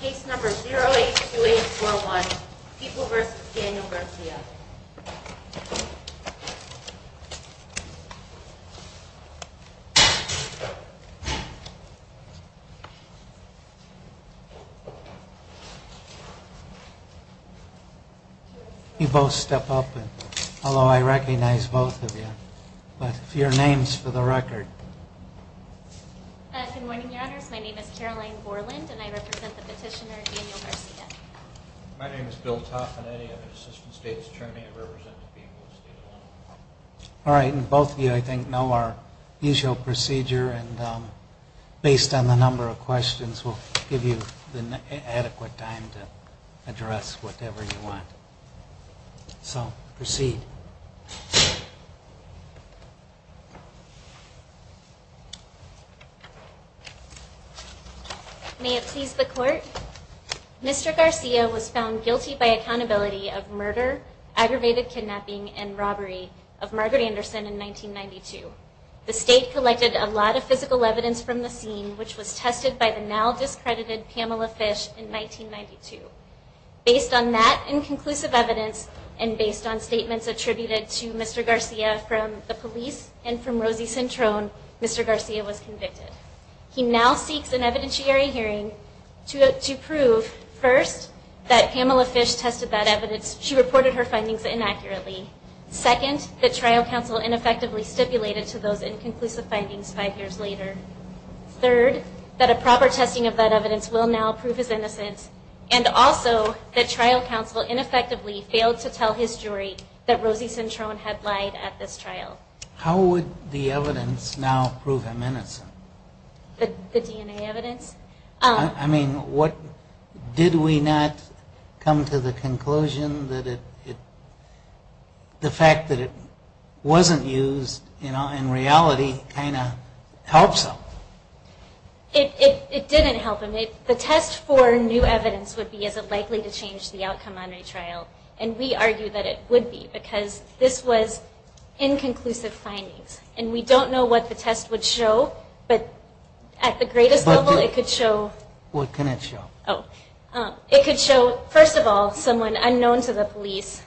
Case number 082841, People v. Daniel Garcia You both step up, although I recognize both of you, but your names for the record. Good morning, your honors. My name is Caroline Borland, and I represent the petitioner Daniel Garcia. My name is Bill Toffinetti. I'm an assistant state attorney. I represent the people of the state of Illinois. All right, and both of you, I think, know our usual procedure, and based on the number of questions, we'll give you the adequate time to address whatever you want. So, proceed. May it please the court, Mr. Garcia was found guilty by accountability of murder, aggravated kidnapping, and robbery of Margaret Anderson in 1992. The state collected a lot of physical evidence from the scene, which was tested by the now discredited Pamela Fish in 1992. Based on that inconclusive evidence, and based on statements attributed to Mr. Garcia from the police and from Rosie Centrone, Mr. Garcia was convicted. He now seeks an evidentiary hearing to prove, first, that Pamela Fish tested that evidence. She reported her findings inaccurately. Second, that trial counsel ineffectively stipulated to those inconclusive findings five years later. Third, that a proper testing of that evidence will now prove his innocence, and also that trial counsel ineffectively failed to tell his jury that Rosie Centrone had lied at this trial. How would the evidence now prove him innocent? The DNA evidence? I mean, did we not come to the conclusion that the fact that it wasn't used in reality kind of helps him? It didn't help him. The test for new evidence would be, is it likely to change the outcome on a trial? And we argue that it would be, because this was inconclusive findings. And we don't know what the test would show, but at the greatest level it could show... It could show, first of all, someone unknown to the police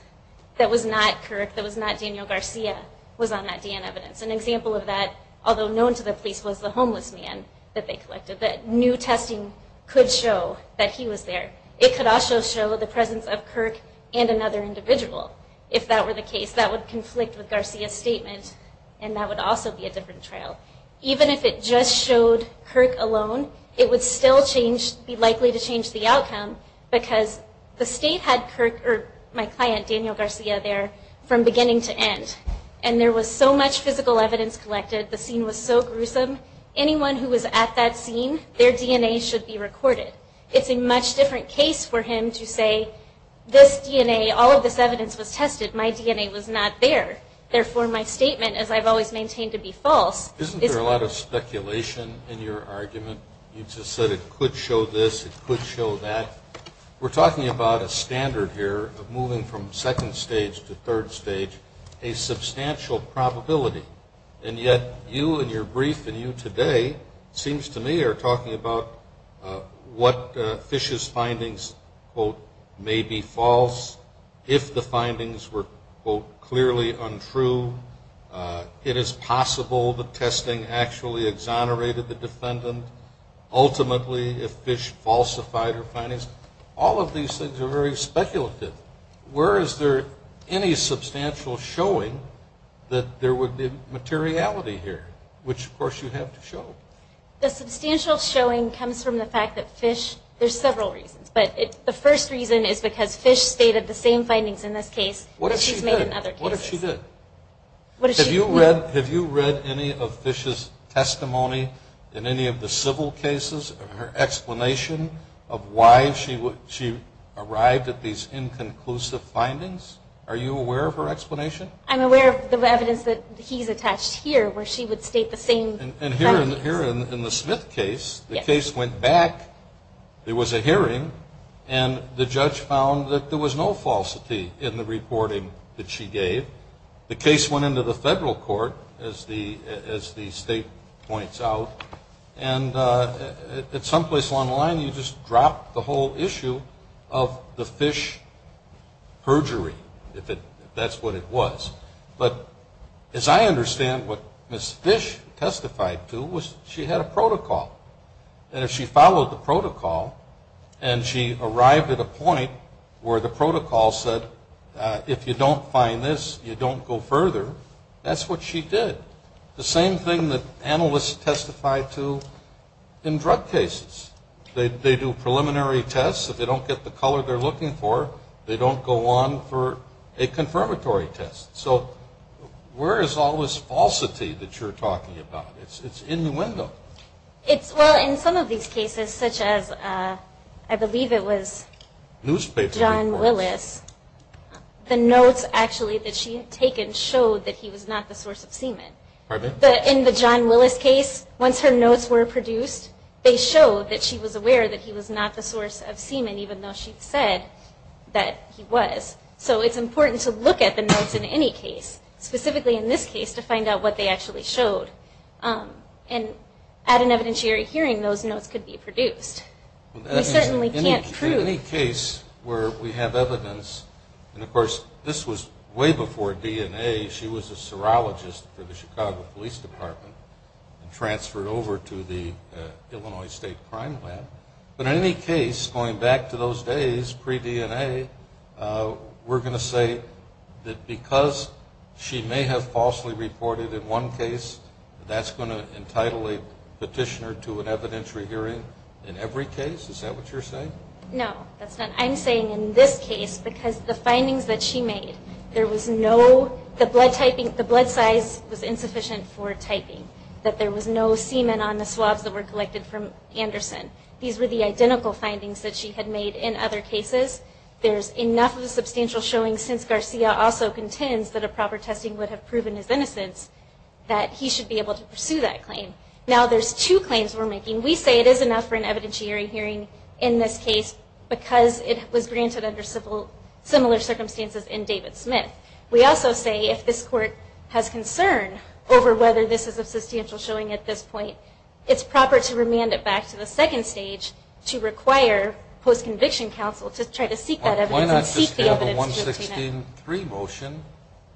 that was not Kirk, that was not Daniel Garcia was on that DNA evidence. An example of that, although known to the police, was the homeless man that they collected. That new testing could show that he was there. It could also show the presence of Kirk and another individual, if that were the case. That would conflict with Garcia's statement, and that would also be a different trial. Even if it just showed Kirk alone, it would still change, be likely to change the outcome, because the state had Kirk, or my client Daniel Garcia there, from beginning to end. And there was so much physical evidence collected, the scene was so gruesome, anyone who was at that scene, their DNA should be recorded. It's a much different case for him to say, this DNA, all of this evidence was tested, my DNA was not there, therefore my statement, as I've always maintained to be false... Isn't there a lot of speculation in your argument? You just said it could show this, it could show that. We're talking about a standard here of moving from second stage to third stage, a substantial probability. And yet, you and your brief and you today, it seems to me, are talking about what Fish's findings, quote, may be false. If the findings were, quote, clearly untrue, it is possible the testing actually exonerated the defendant. Ultimately, if Fish falsified her findings, all of these things are very speculative. Where is there any substantial showing that there would be materiality here? Which, of course, you have to show. The substantial showing comes from the fact that Fish, there's several reasons, but the first reason is because Fish stated the same findings in this case. What if she did? What if she did? Have you read any of Fish's testimony in any of the civil cases? Her explanation of why she arrived at these inconclusive findings? Are you aware of her explanation? I'm aware of the evidence that he's attached here, where she would state the same findings. And here in the Smith case, the case went back, there was a hearing, and the judge found that there was no falsity in the reporting that she gave. The case went into the federal court, as the state points out. And at some place along the line, you just drop the whole issue of the Fish perjury, if that's what it was. But as I understand, what Ms. Fish testified to was she had a protocol. And if she followed the protocol, and she arrived at a point where the protocol said, if you don't find this, you don't go further, that's what she did. The same thing that analysts testify to in drug cases. They do preliminary tests, if they don't get the color they're looking for, they don't go on for a confirmatory test. So where is all this falsity that you're talking about? It's innuendo. Well, in some of these cases, such as, I believe it was John Willis, the notes actually that she had taken showed that he was not the source of semen. In the John Willis case, once her notes were produced, they showed that she was aware that he was not the source of semen, even though she said that he was. So it's important to look at the notes in any case, specifically in this case, to find out what they actually showed. And at an evidentiary hearing, those notes could be produced. In any case where we have evidence, and of course, this was way before DNA, she was a serologist for the Chicago Police Department, and transferred over to the Illinois State Crime Lab. But in any case, going back to those days, pre-DNA, we're going to say that because she may have falsely reported in one case, that's going to entitle a petitioner to an evidentiary hearing in every other case. Is that what you're saying? No, that's not. I'm saying in this case, because the findings that she made, there was no, the blood typing, the blood size was insufficient for typing, that there was no semen on the swabs that were collected from Anderson. These were the identical findings that she had made in other cases. There's enough of a substantial showing, since Garcia also contends that a proper testing would have proven his innocence, that he should be able to pursue that claim. Now, there's two claims we're making. We say it is enough for an evidentiary hearing in this case, because it was granted under similar circumstances in David Smith. We also say if this Court has concern over whether this is a substantial showing at this point, it's proper to remand it back to the second stage to require post-conviction counsel to try to seek that evidence and seek the evidence. Why not just have a 116.3 motion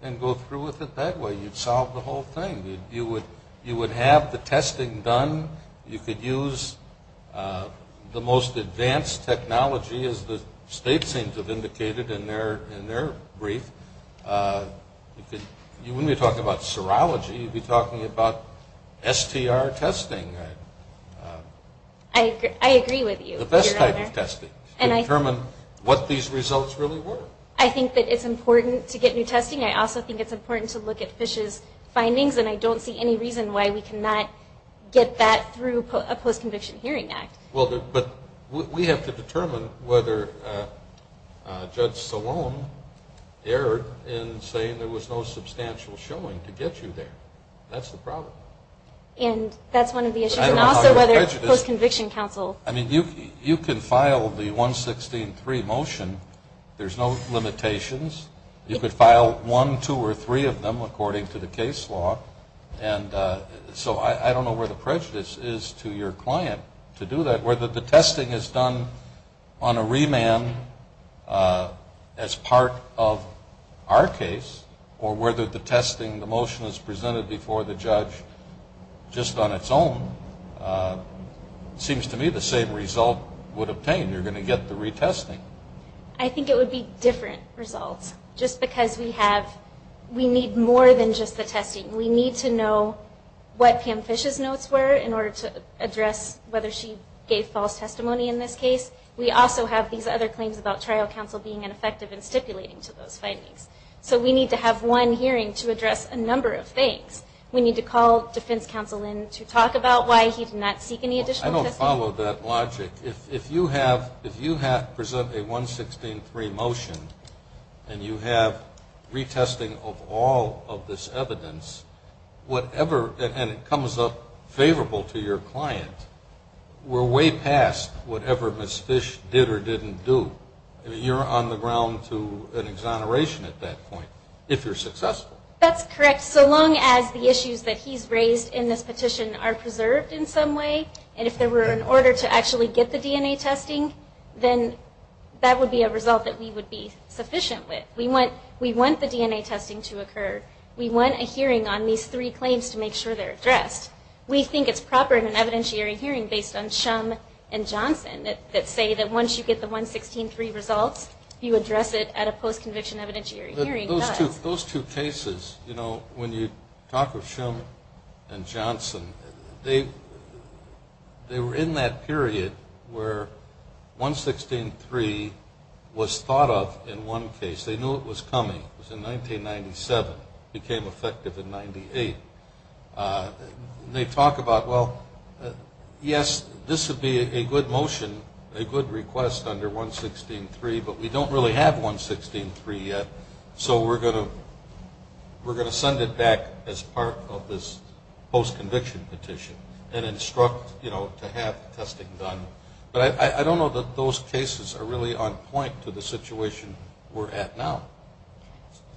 and go through with it that way? You'd solve the whole thing. You would have the testing done. You could use the most advanced technology, as the state seems to have indicated in their brief. You wouldn't be talking about serology. You'd be talking about STR testing. I think it's important to get new testing. I also think it's important to look at Fish's findings, and I don't see any reason why we cannot get that through a post-conviction hearing act. But we have to determine whether Judge Salone erred in saying there was no substantial showing to get you there. That's the problem. And that's one of the issues, and also whether post-conviction counsel... I mean, you can file the 116.3 motion. There's no limitations. You could file one, two, or three of them, according to the case law. And so I don't know where the prejudice is to your client to do that, whether the testing is done on a remand as part of our case, or whether the testing, the motion, is presented before the judge. And I think that, just on its own, seems to me the same result would obtain. You're going to get the retesting. I think it would be different results, just because we have... we need more than just the testing. We need to know what Pam Fish's notes were in order to address whether she gave false testimony in this case. We also have these other claims about trial counsel being ineffective in stipulating to those findings. So we need to have one hearing to address a number of things. We need to call defense counsel in to talk about why he did not seek any additional testing. I don't follow that logic. If you present a 116.3 motion and you have retesting of all of this evidence, whatever... and it comes up favorable to your client, we're way past whatever Ms. Fish did or didn't do. You're on the ground to an exoneration at that point, if you're successful. That's correct, so long as the issues that he's raised in this petition are preserved in some way. And if they were in order to actually get the DNA testing, then that would be a result that we would be sufficient with. We want the DNA testing to occur. We want a hearing on these three claims to make sure they're addressed. We think it's proper in an evidentiary hearing based on Shum and Johnson that say that once you get the 116.3 results, you address it at a post-conviction evidentiary hearing. Those two cases, when you talk of Shum and Johnson, they were in that period where 116.3 was thought of in one case. They knew it was coming. It was in 1997. It became effective in 1998. They talk about, well, yes, this would be a good motion, a good request under 116.3, but we don't really have 116.3 yet. So we're going to send it back as part of this post-conviction petition and instruct to have the testing done. But I don't know that those cases are really on point to the situation we're at now.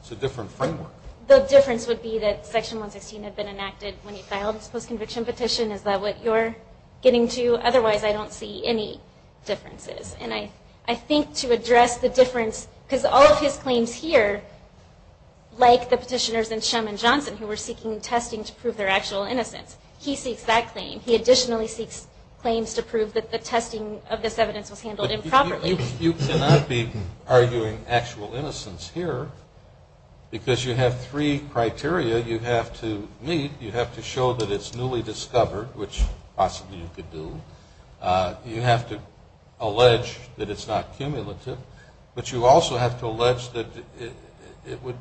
It's a different framework. The difference would be that Section 116 had been enacted when you filed this post-conviction petition. Is that what you're getting to? Otherwise, I don't see any differences. And I think to address the difference, because all of his claims here, like the petitioners in Shum and Johnson who were seeking testing to prove their actual innocence, he seeks that claim. He additionally seeks claims to prove that the testing of this evidence was handled improperly. You cannot be arguing actual innocence here because you have three criteria you have to meet. You have to show that it's newly discovered, which possibly you could do. You have to allege that it's not cumulative. But you also have to allege that it would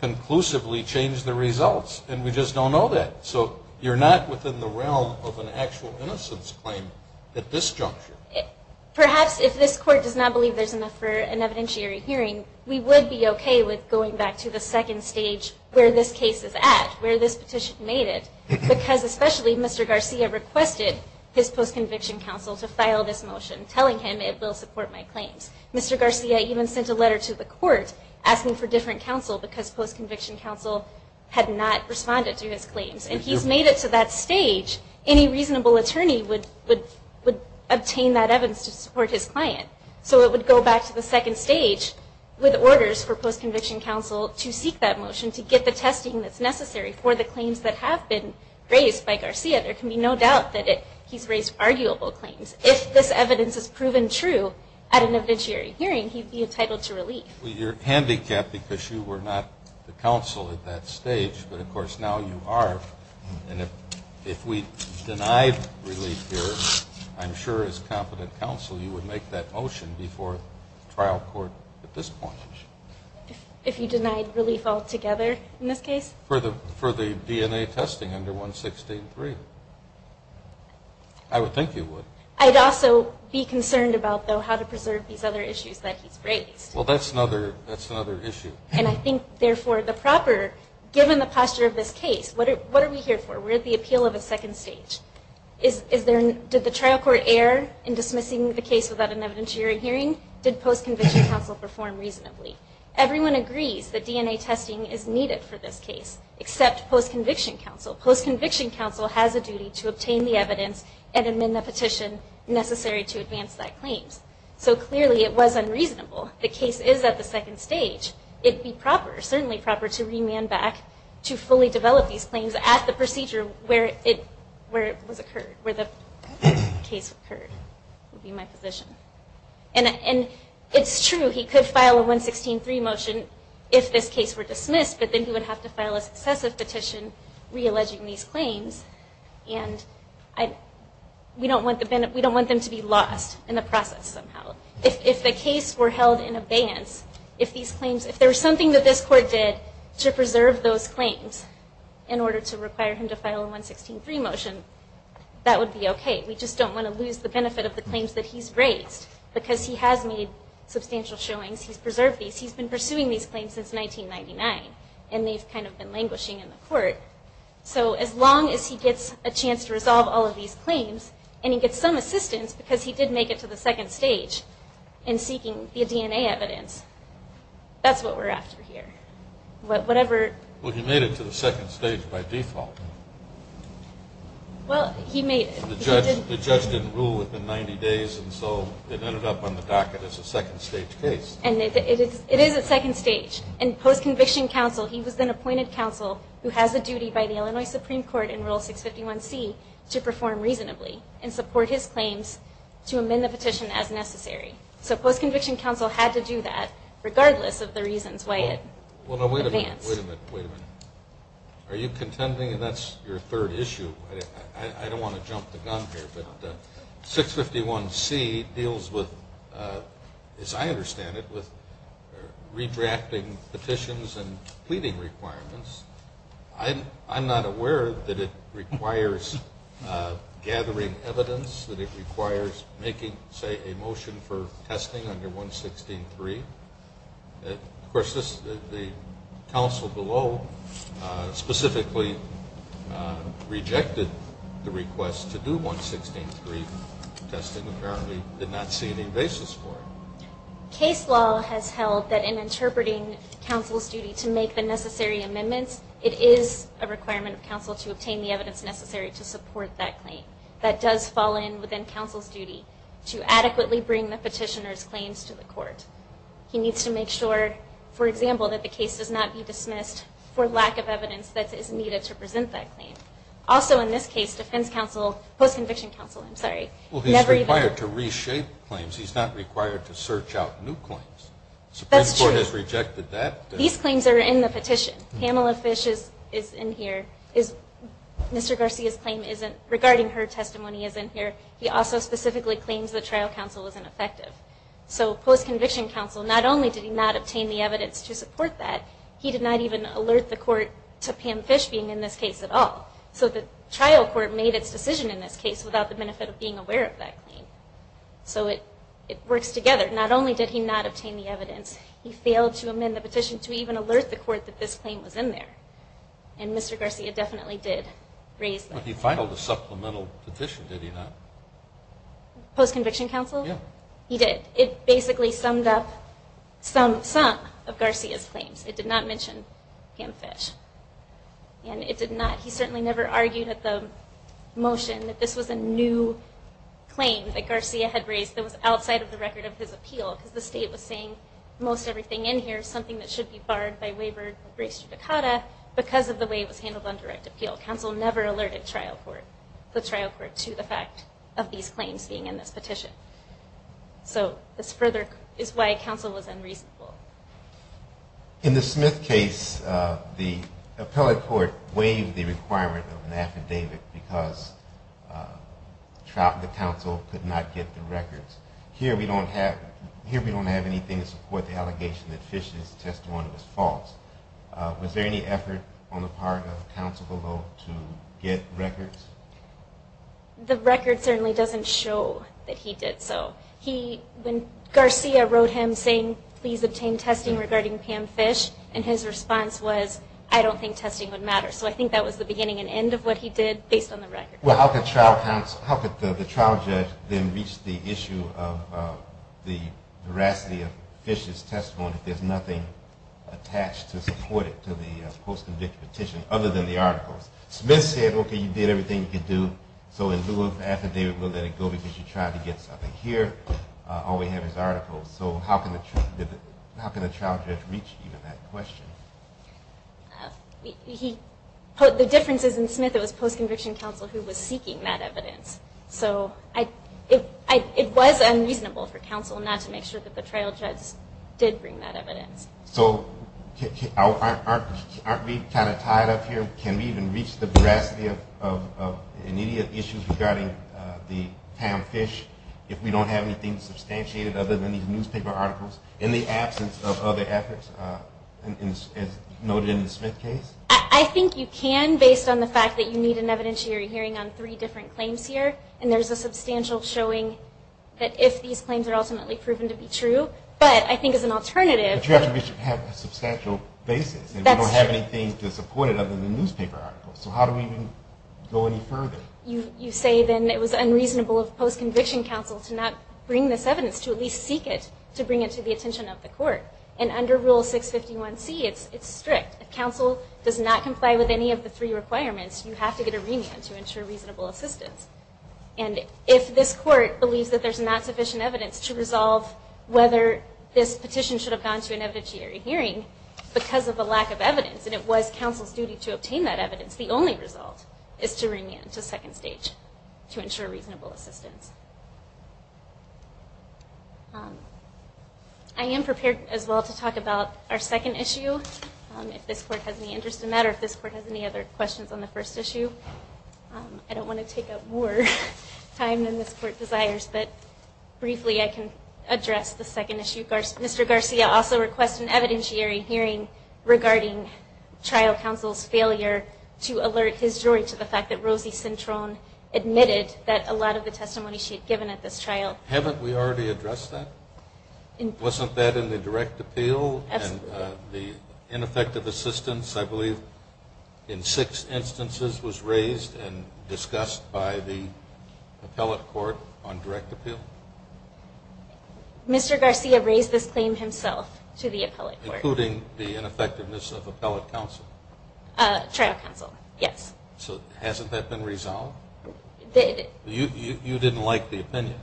conclusively change the results. And we just don't know that. So you're not within the realm of an actual innocence claim at this juncture. Perhaps if this Court does not believe there's enough for an evidentiary hearing, we would be okay with going back to the second stage where this case is at, where this petition made it. Because especially Mr. Garcia requested his post-conviction counsel to file this motion, telling him it will support my claims. Mr. Garcia even sent a letter to the Court asking for different counsel because post-conviction counsel had not responded to his claims. And he's made it to that stage. Any reasonable attorney would obtain that evidence to support his client. So it would go back to the second stage with orders for post-conviction counsel to seek that motion, to get the testing that's necessary for the claims that have been raised by Garcia. There can be no doubt that he's raised arguable claims. If this evidence is proven true at an evidentiary hearing, he'd be entitled to relief. Well, you're handicapped because you were not the counsel at that stage, but of course now you are. And if we denied relief here, I'm sure as competent counsel you would make that motion before trial court at this point. If you denied relief altogether in this case? For the DNA testing under 116.3. I would think you would. I'd also be concerned about, though, how to preserve these other issues that he's raised. Well, that's another issue. Given the posture of this case, what are we here for? We're at the appeal of a second stage. Did the trial court err in dismissing the case without an evidentiary hearing? Did post-conviction counsel perform reasonably? Everyone agrees that DNA testing is needed for this case, except post-conviction counsel. Post-conviction counsel has a duty to obtain the evidence and amend the petition necessary to advance that claim. So clearly it was unreasonable. The case is at the second stage. It'd be proper, certainly proper, to remand back to fully develop these claims at the procedure where it was occurred. Where the case occurred would be my position. And it's true, he could file a 116.3 motion if this case were dismissed, but then he would have to file a successive petition re-alleging these claims. We don't want them to be lost in the process somehow. If the case were held in advance, if there was something that this court did to preserve those claims in order to require him to file a 116.3 motion, that would be okay. We just don't want to lose the benefit of the claims that he's raised. Because he has made substantial showings, he's preserved these, he's been pursuing these claims since 1999. And they've kind of been languishing in the court. So as long as he gets a chance to resolve all of these claims, and he gets some assistance because he did make it to the second stage in seeking the DNA evidence, that's what we're after here. Well, he made it to the second stage by default. The judge didn't rule within 90 days, and so it ended up on the docket as a second stage case. And it is a second stage. And post-conviction counsel, he was then appointed counsel who has the duty by the Illinois Supreme Court in Rule 651C to perform reasonably and support his claims to amend the petition as necessary. So post-conviction counsel had to do that regardless of the reasons why it advanced. Are you contending that's your third issue? I don't want to jump the gun here. But 651C deals with, as I understand it, with redrafting petitions and pleading requirements. I'm not aware that it requires gathering evidence, that it requires making, say, a motion for testing under 116.3. Of course, the counsel below specifically rejected the request to do 116.3 testing, apparently did not see any basis for it. Case law has held that in interpreting counsel's duty to make the necessary amendments, it is a requirement of counsel to obtain the evidence necessary to support that claim. That does fall in within counsel's duty to adequately bring the petitioner's claims to the court. He needs to make sure, for example, that the case does not be dismissed for lack of evidence that is needed to present that claim. Also, in this case, defense counsel, post-conviction counsel, I'm sorry, never even... Well, he's required to reshape claims, he's not required to search out new claims. That's true. The Supreme Court has rejected that. These claims are in the petition. Pamela Fish is in here. Mr. Garcia's claim regarding her testimony is in here. He also specifically claims that trial counsel is ineffective. So post-conviction counsel, not only did he not obtain the evidence to support that, he did not even alert the court to Pam Fish being in this case at all. So the trial court made its decision in this case without the benefit of being aware of that claim. So it works together. Not only did he not obtain the evidence, he failed to amend the petition to even alert the court that this claim was in there. And Mr. Garcia definitely did raise them. But he filed a supplemental petition, did he not? Post-conviction counsel? Yeah. He did. It basically summed up some of Garcia's claims. It did not mention Pam Fish. He certainly never argued at the motion that this was a new claim that Garcia had raised that was outside of the record of his appeal. Because the state was saying most everything in here is something that should be barred by waiver of race judicata because of the way it was handled on direct appeal. Counsel never alerted the trial court to the fact of these claims being in this petition. So this further is why counsel was unreasonable. In the Smith case, the appellate court waived the requirement of an affidavit because the counsel could not get the records. Here we don't have anything to support the allegation that Fish's testimony was false. Was there any effort on the part of counsel below to get records? The record certainly doesn't show that he did so. Garcia wrote him saying, please obtain testing regarding Pam Fish, and his response was, I don't think testing would matter. So I think that was the beginning and end of what he did based on the record. Well, how could the trial judge then reach the issue of the veracity of Fish's testimony if there's nothing attached to support it to the post-conviction petition other than the articles? Smith said, okay, you did everything you could do, so in lieu of affidavit, we'll let it go because you tried to get something. Here all we have is articles. So how can the trial judge reach even that question? The difference is in Smith, it was post-conviction counsel who was seeking that evidence. So it was unreasonable for counsel not to make sure that the trial judge did bring that evidence. So aren't we kind of tied up here? Can we even reach the veracity of any issues regarding Pam Fish if we don't have anything substantiated other than these newspaper articles? In the absence of other efforts, as noted in the Smith case? I think you can, based on the fact that you need an evidentiary hearing on three different claims here. And there's a substantial showing that if these claims are ultimately proven to be true. But you have to have a substantial basis. And we don't have anything to support it other than the newspaper articles. So how do we even go any further? You say then it was unreasonable of post-conviction counsel to not bring this evidence, to at least seek it, to bring it to the attention of the court. And under Rule 651c, it's strict. If counsel does not comply with any of the three requirements, you have to get a remand to ensure reasonable assistance. And if this court believes that there's not sufficient evidence to resolve whether this petition should have gone to an evidentiary hearing, because of the lack of evidence, and it was counsel's duty to obtain that evidence, the only result is to remand to second stage. To ensure reasonable assistance. I am prepared as well to talk about our second issue, if this court has any interest in that, or if this court has any other questions on the first issue. I don't want to take up more time than this court desires, but briefly I can address the second issue. Mr. Garcia also requests an evidentiary hearing regarding trial counsel's failure to alert his jury to the fact that Rosie Cintron admitted that a lot of the testimony she had given at this trial. Haven't we already addressed that? Wasn't that in the direct appeal? And the ineffective assistance, I believe, in six instances was raised and discussed by the appellate court on direct appeal? Mr. Garcia raised this claim himself to the appellate court. Including the ineffectiveness of appellate counsel? Trial counsel, yes. So hasn't that been resolved? You didn't like the opinion.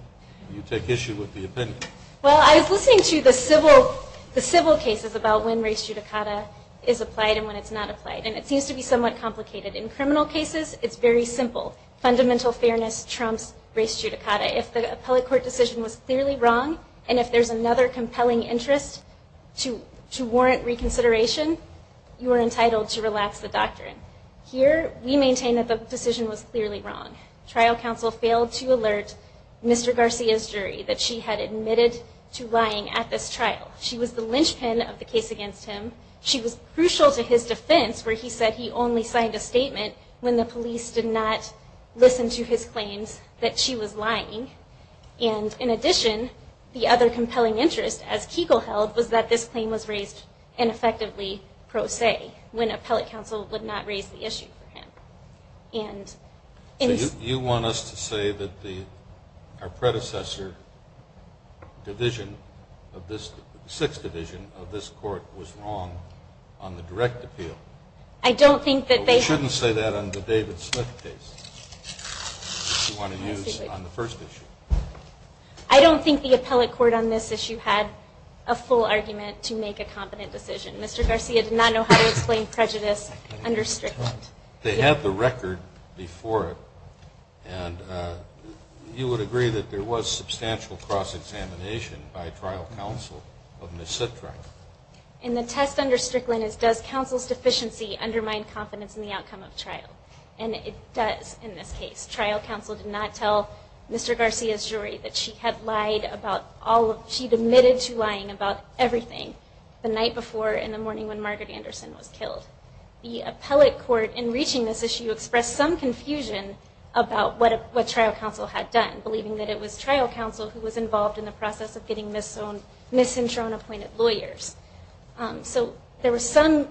You take issue with the opinion. Well, I was listening to the civil cases about when race judicata is applied and when it's not applied, and it seems to be somewhat complicated. In criminal cases, it's very simple. Fundamental fairness trumps race judicata. If the appellate court decision was clearly wrong, and if there's another compelling interest to warrant reconsideration, you are entitled to relax the doctrine. Here, we maintain that the decision was clearly wrong. Trial counsel failed to alert Mr. Garcia's jury that she had admitted to lying at this trial. She was the linchpin of the case against him. She was crucial to his defense, where he said he only signed a statement when the police did not listen to his claims that she was lying. And, in addition, the other compelling interest, as Kegel held, was that this claim was raised ineffectively, pro se, when appellate counsel would not raise the issue for him. So you want us to say that our predecessor division of this court, the appellate court, the sixth division of this court was wrong on the direct appeal. But we shouldn't say that on the David Smith case that you want to use on the first issue. I don't think the appellate court on this issue had a full argument to make a competent decision. Mr. Garcia did not know how to explain prejudice under strict judgment. They had the record before it. And you would agree that there was substantial cross-examination by trial counsel of Ms. Sitra. And the test under Strickland is does counsel's deficiency undermine confidence in the outcome of trial? And it does in this case. Trial counsel did not tell Mr. Garcia's jury that she had lied about all of, she had admitted to lying about everything the night before in the morning when Margaret Anderson was killed. The appellate court, in reaching this issue, expressed some confusion about what trial counsel had done, believing that it was trial counsel who was involved in the process of getting Ms. Sitra unappointed lawyers. So there was some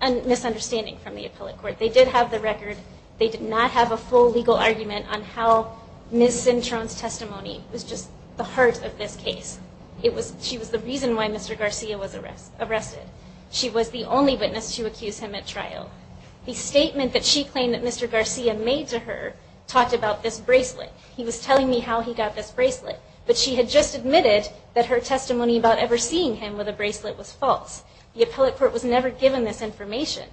misunderstanding from the appellate court. They did have the record, they did not have a full legal argument on how Ms. Cintron's testimony was just the heart of this case. She was the reason why Mr. Garcia was arrested. She was the only witness to accuse him at trial. The statement that she claimed that Mr. Garcia made to her talked about this bracelet. He was telling me how he got this bracelet. But she had just admitted that her testimony about ever seeing him with a bracelet was false. The appellate court was never given this information.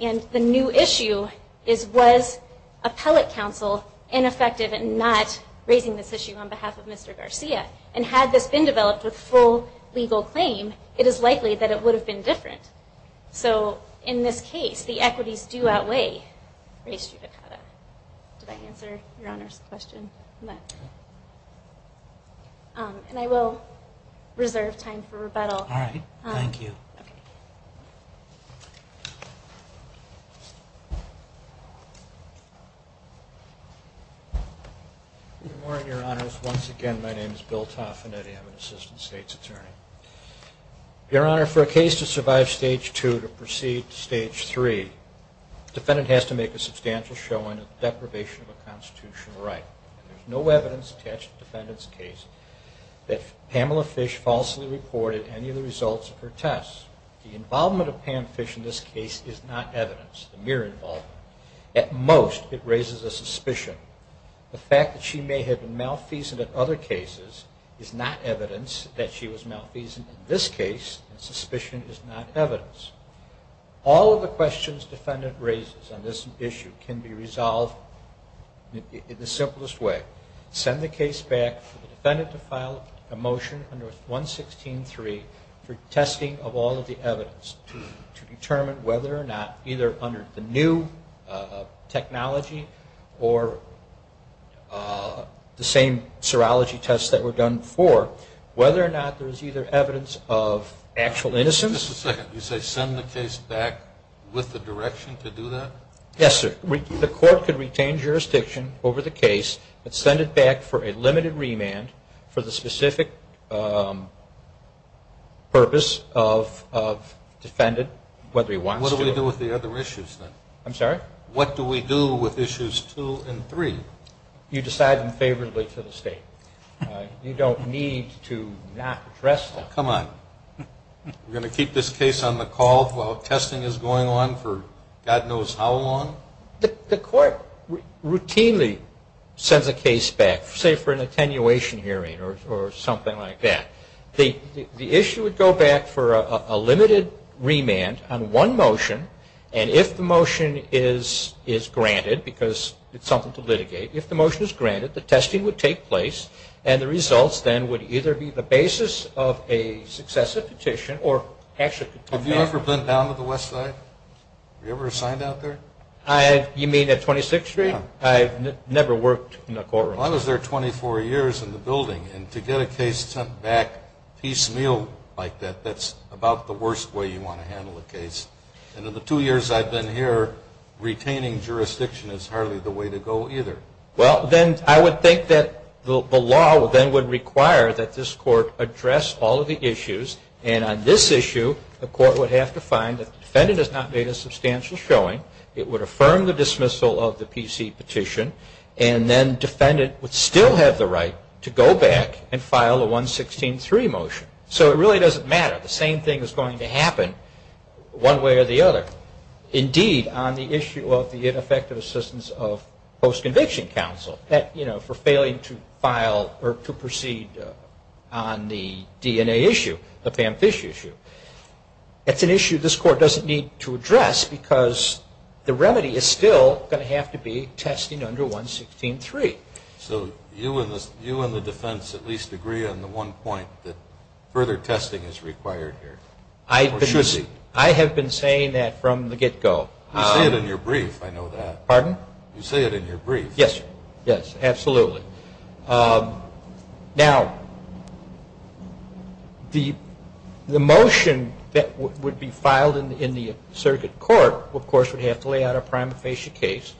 And the new issue is was appellate counsel ineffective in not raising this issue on behalf of Mr. Garcia? And had this been developed with full legal claim, it is likely that it would have been different. So in this case, the equities do outweigh race judicata. Did I answer your Honor's question on that? Thank you. Good morning, Your Honors. Once again, my name is Bill Toffinetti. I'm an assistant state's attorney. Your Honor, for a case to survive stage 2 to proceed to stage 3, the defendant has to make a substantial showing of deprivation of a constitutional right. There's no evidence attached to the defendant's case that Pamela Fish falsely reported any of the results of her tests. The involvement of Pam Fish in this case is not evidence, the mere involvement. At most, it raises a suspicion. The fact that she may have been malfeasant in other cases is not evidence that she was malfeasant in this case, and suspicion is not evidence. All of the questions the defendant raises on this issue can be resolved in the simplest way. Send the case back for the defendant to file a motion under 116.3 for testing of all of the evidence to determine whether or not, either under the new technology or the same serology tests that were done before, whether or not there is either evidence of actual innocence... The court could retain jurisdiction over the case, but send it back for a limited remand for the specific purpose of the defendant, whether he wants to... What do we do with the other issues, then? You decide them favorably for the State. You don't need to not address them. Come on. We're going to keep this case on the call while testing is going on for God knows how long? The court routinely sends a case back, say for an attenuation hearing or something like that. The issue would go back for a limited remand on one motion, and if the motion is granted, because it's something to litigate, if the motion is granted, the testing would take place. And the results, then, would either be the basis of a successive petition or actually... Have you ever been down to the West Side? Were you ever assigned out there? You mean at 26th Street? I've never worked in a courtroom. Well, I was there 24 years in the building, and to get a case sent back piecemeal like that, that's about the worst way you want to handle a case. And in the two years I've been here, retaining jurisdiction is hardly the way to go either. Well, then I would think that the law then would require that this court address all of the issues, and on this issue, the court would have to find that the defendant has not made a substantial showing. It would affirm the dismissal of the PC petition, and then defendant would still have the right to go back and file a 116-3 motion. So it really doesn't matter. The same thing is going to happen one way or the other. Indeed, on the issue of the ineffective assistance of post-conviction counsel for failing to file or to proceed on the DNA issue, the Pam Fish issue, that's an issue this court doesn't need to address because the remedy is still going to have to be testing under 116-3. So you and the defense at least agree on the one point that further testing is required here, or should be? I have been saying that from the get-go. You say it in your brief, I know that. Pardon? You say it in your brief. Yes, absolutely. Now, the motion that would be filed in the circuit court, of course, would have to lay out a prima facie case.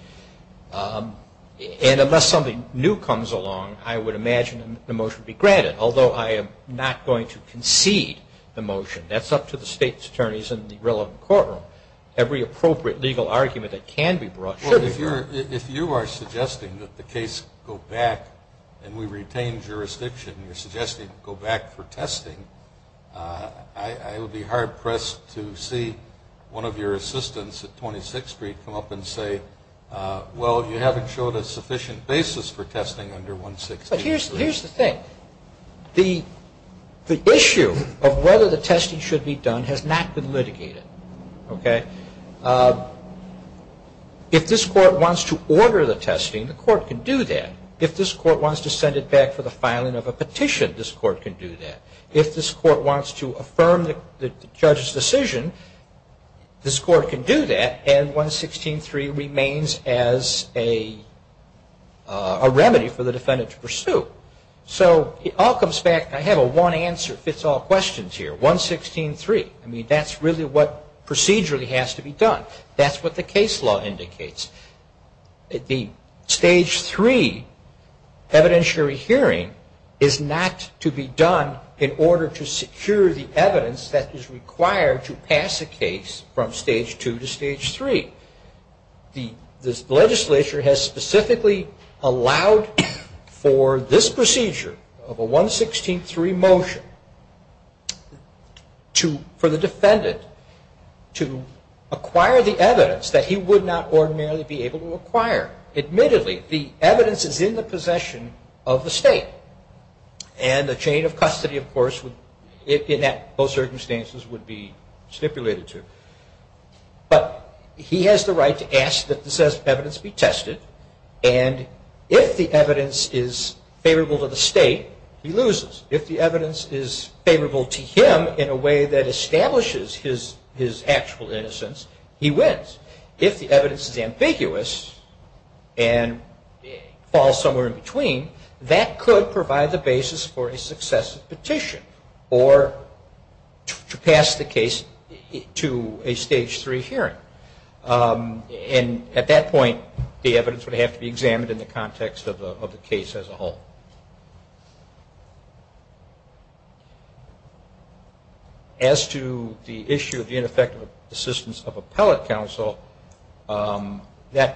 And unless something new comes along, I would imagine the motion would be granted, although I am not going to concede the motion. That's up to the State's attorneys in the relevant courtroom. Every appropriate legal argument that can be brought should be brought. If you are suggesting that the case go back and we retain jurisdiction, you're suggesting go back for testing, I would be hard-pressed to see one of your assistants at 26th Street come up and say, well, you haven't showed a sufficient basis for testing under 116-3. But here's the thing. The issue of whether the testing should be done has not been litigated. If this court wants to order the testing, the court can do that. If this court wants to send it back for the filing of a petition, this court can do that. If this court wants to affirm the judge's decision, this court can do that. And 116-3 remains as a remedy for the defendant to pursue. So it all comes back, I have a one-answer-fits-all question here, 116-3. I mean, that's really what procedurally has to be done. That's what the case law indicates. The Stage 3 evidentiary hearing is not to be done in order to secure the evidence that is required to pass a case from Stage 2 to Stage 3. The legislature has specifically allowed for this procedure of a 116-3 motion to allow for a procedure of 116-3. For the defendant to acquire the evidence that he would not ordinarily be able to acquire. Admittedly, the evidence is in the possession of the state. And the chain of custody, of course, in most circumstances would be stipulated to. But he has the right to ask that the evidence be tested. And if the evidence is favorable to the state, he loses. If the evidence is favorable to him in a way that establishes his actual innocence, he wins. If the evidence is ambiguous and falls somewhere in between, that could provide the basis for a successive petition. Or to pass the case to a Stage 3 hearing. And at that point, the evidence would have to be examined in the context of the case as a whole. As to the issue of the ineffective assistance of appellate counsel, the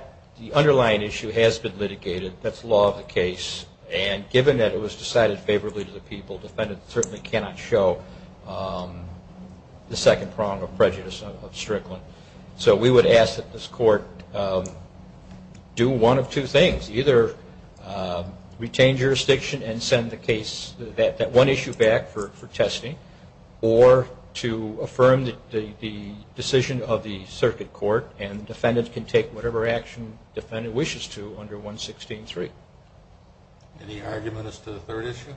underlying issue has been litigated. That's law of the case. And given that it was decided favorably to the people, the defendant certainly cannot show the second prong of prejudice of Strickland. So we would ask that this Court do one of two things. Either retain jurisdiction and send the case, that one issue back for testing. Or to affirm the decision of the circuit court. And the defendant can take whatever action the defendant wishes to under 116.3. Any argument as to the third issue?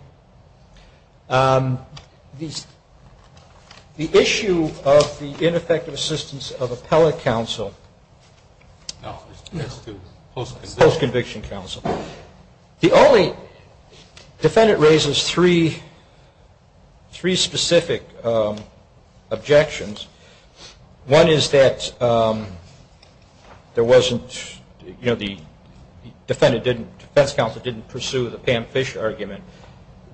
The issue of the ineffective assistance of appellate counsel. No, it's to post-conviction counsel. The only... The defendant raises three specific objections. One is that there wasn't... The defense counsel didn't pursue the Pam Fish argument.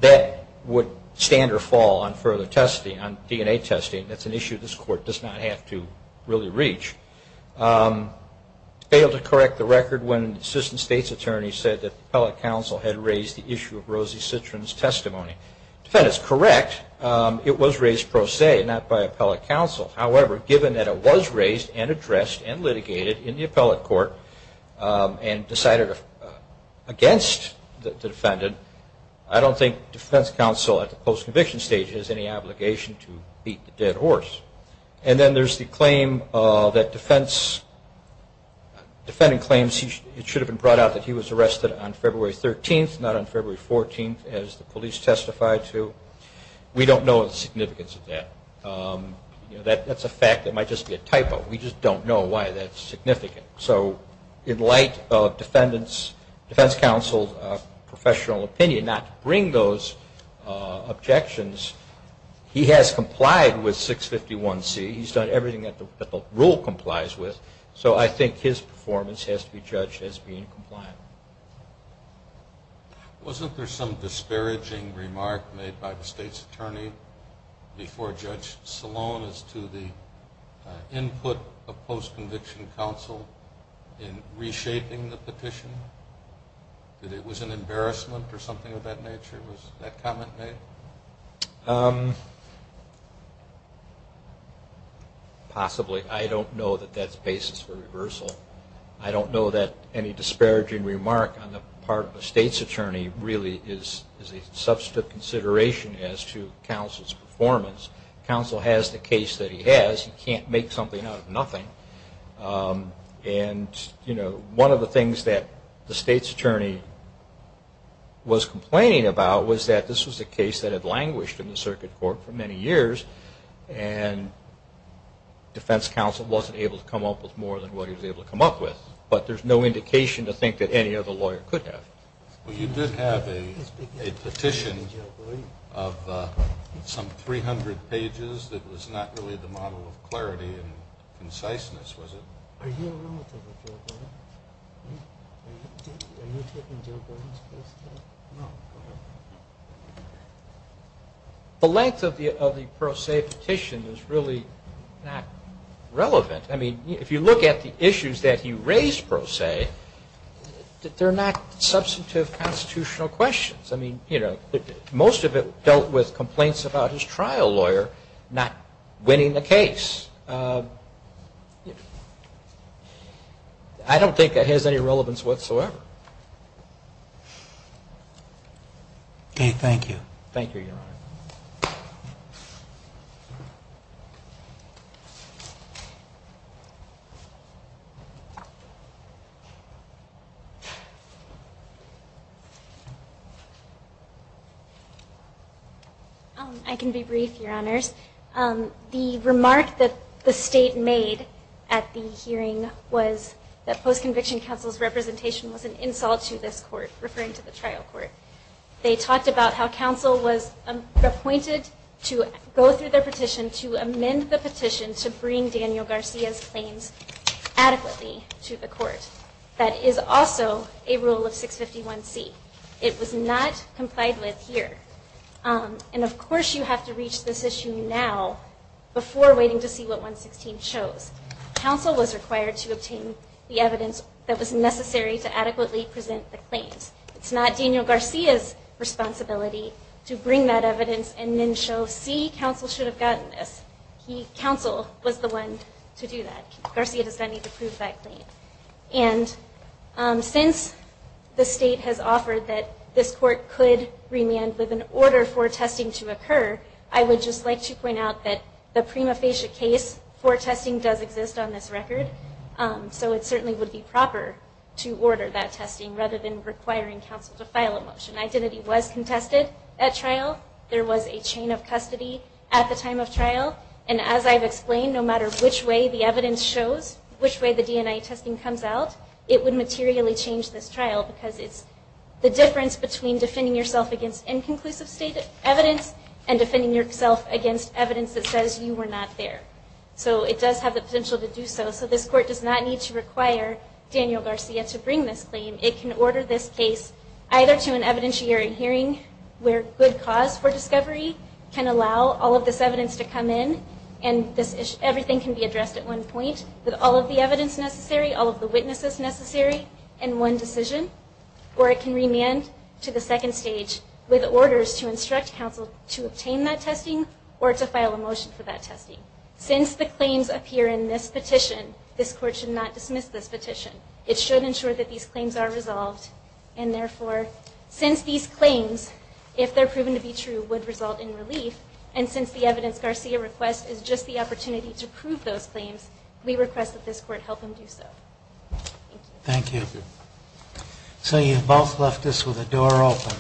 That would stand or fall on further testing, on DNA testing. That's an issue this Court does not have to really reach. Failed to correct the record when the assistant state's attorney said that the appellate counsel had raised the issue of Rosie Citrin's testimony. The defendant is correct. It was raised pro se, not by appellate counsel. However, given that it was raised and addressed and litigated in the appellate court and decided against the defendant, I don't think defense counsel at the post-conviction stage has any obligation to beat the dead horse. And then there's the claim that defense... Defendant claims it should have been brought out that he was arrested on February 13th, not on February 14th, as the police testified to. We don't know the significance of that. That's a fact that might just be a typo. We just don't know why that's significant. So in light of defense counsel's professional opinion not to bring those objections, he has complied with 651C. He's done everything that the rule complies with. So I think his performance has to be judged as being compliant. Wasn't there some disparaging remark made by the state's attorney before Judge Salone as to the input of post-conviction counsel in reshaping the petition? That it was an embarrassment or something of that nature? Was that comment made? Possibly. I don't know that that's basis for reversal. I don't know that any disparaging remark on the part of the state's attorney really is a substantive consideration as to counsel's performance. Counsel has the case that he has. He can't make something out of nothing. And one of the things that the state's attorney was complaining about was that this was a case that had languished in the circuit court for many years and defense counsel wasn't able to come up with more than what he was able to come up with. But there's no indication to think that any other lawyer could have. You did have a petition of some 300 pages that was not really the model of clarity and conciseness, was it? Are you a relative of Joe Gordon? Are you taking Joe Gordon's case? The length of the Pro Se petition is really not relevant. I mean, if you look at the issues that he raised Pro Se, they're not substantive constitutional questions. I mean, most of it dealt with complaints about his trial lawyer not winning the case. I don't think that has any relevance whatsoever. Okay. Thank you. Thank you, Your Honor. I can be brief, Your Honors. The remark that the state made at the hearing was that post-conviction counsel's representation was an insult to this court, referring to the trial court. They talked about how counsel was appointed to go through their petition to amend the petition to bring Daniel Garcia's claims adequately to the court. That is also a rule of 651C. It was not complied with here. And of course you have to reach this issue now before waiting to see what 116 shows. Counsel was required to obtain the evidence that was necessary to adequately present the claims. It's not Daniel Garcia's responsibility to bring that evidence and then show, see, counsel should have gotten this. Counsel was the one to do that. Garcia does not need to prove that claim. And since the state has offered that this court could remand with an order for testing to occur, I would just like to point out that the prima facie case for testing does exist on this record. So it certainly would be proper to order that testing rather than requiring counsel to file a motion. Identity was contested at trial. There was a chain of custody at the time of trial. And as I've explained, no matter which way the evidence shows, which way the DNA testing comes out, it would materially change this trial because it's the difference between defending yourself against inconclusive evidence and defending yourself against evidence that says you were not there. So it does have the potential to do so. So this court does not need to require Daniel Garcia to bring this claim. It can order this case either to an evidentiary hearing where good cause for discovery can allow all of this evidence to come in and everything can be addressed at one point with all of the evidence necessary, all of the witnesses necessary in one decision, or it can remand to the second stage with orders to instruct counsel to obtain that testing or to file a motion for that testing. Since the claims appear in this petition, this court should not dismiss this petition. It should ensure that these claims are resolved. And therefore, since these claims, if they're proven to be true, would result in relief, and since the evidence Garcia requests is just the opportunity to prove those claims, we request that this case be dismissed. Thank you. So you've both left us with a door open.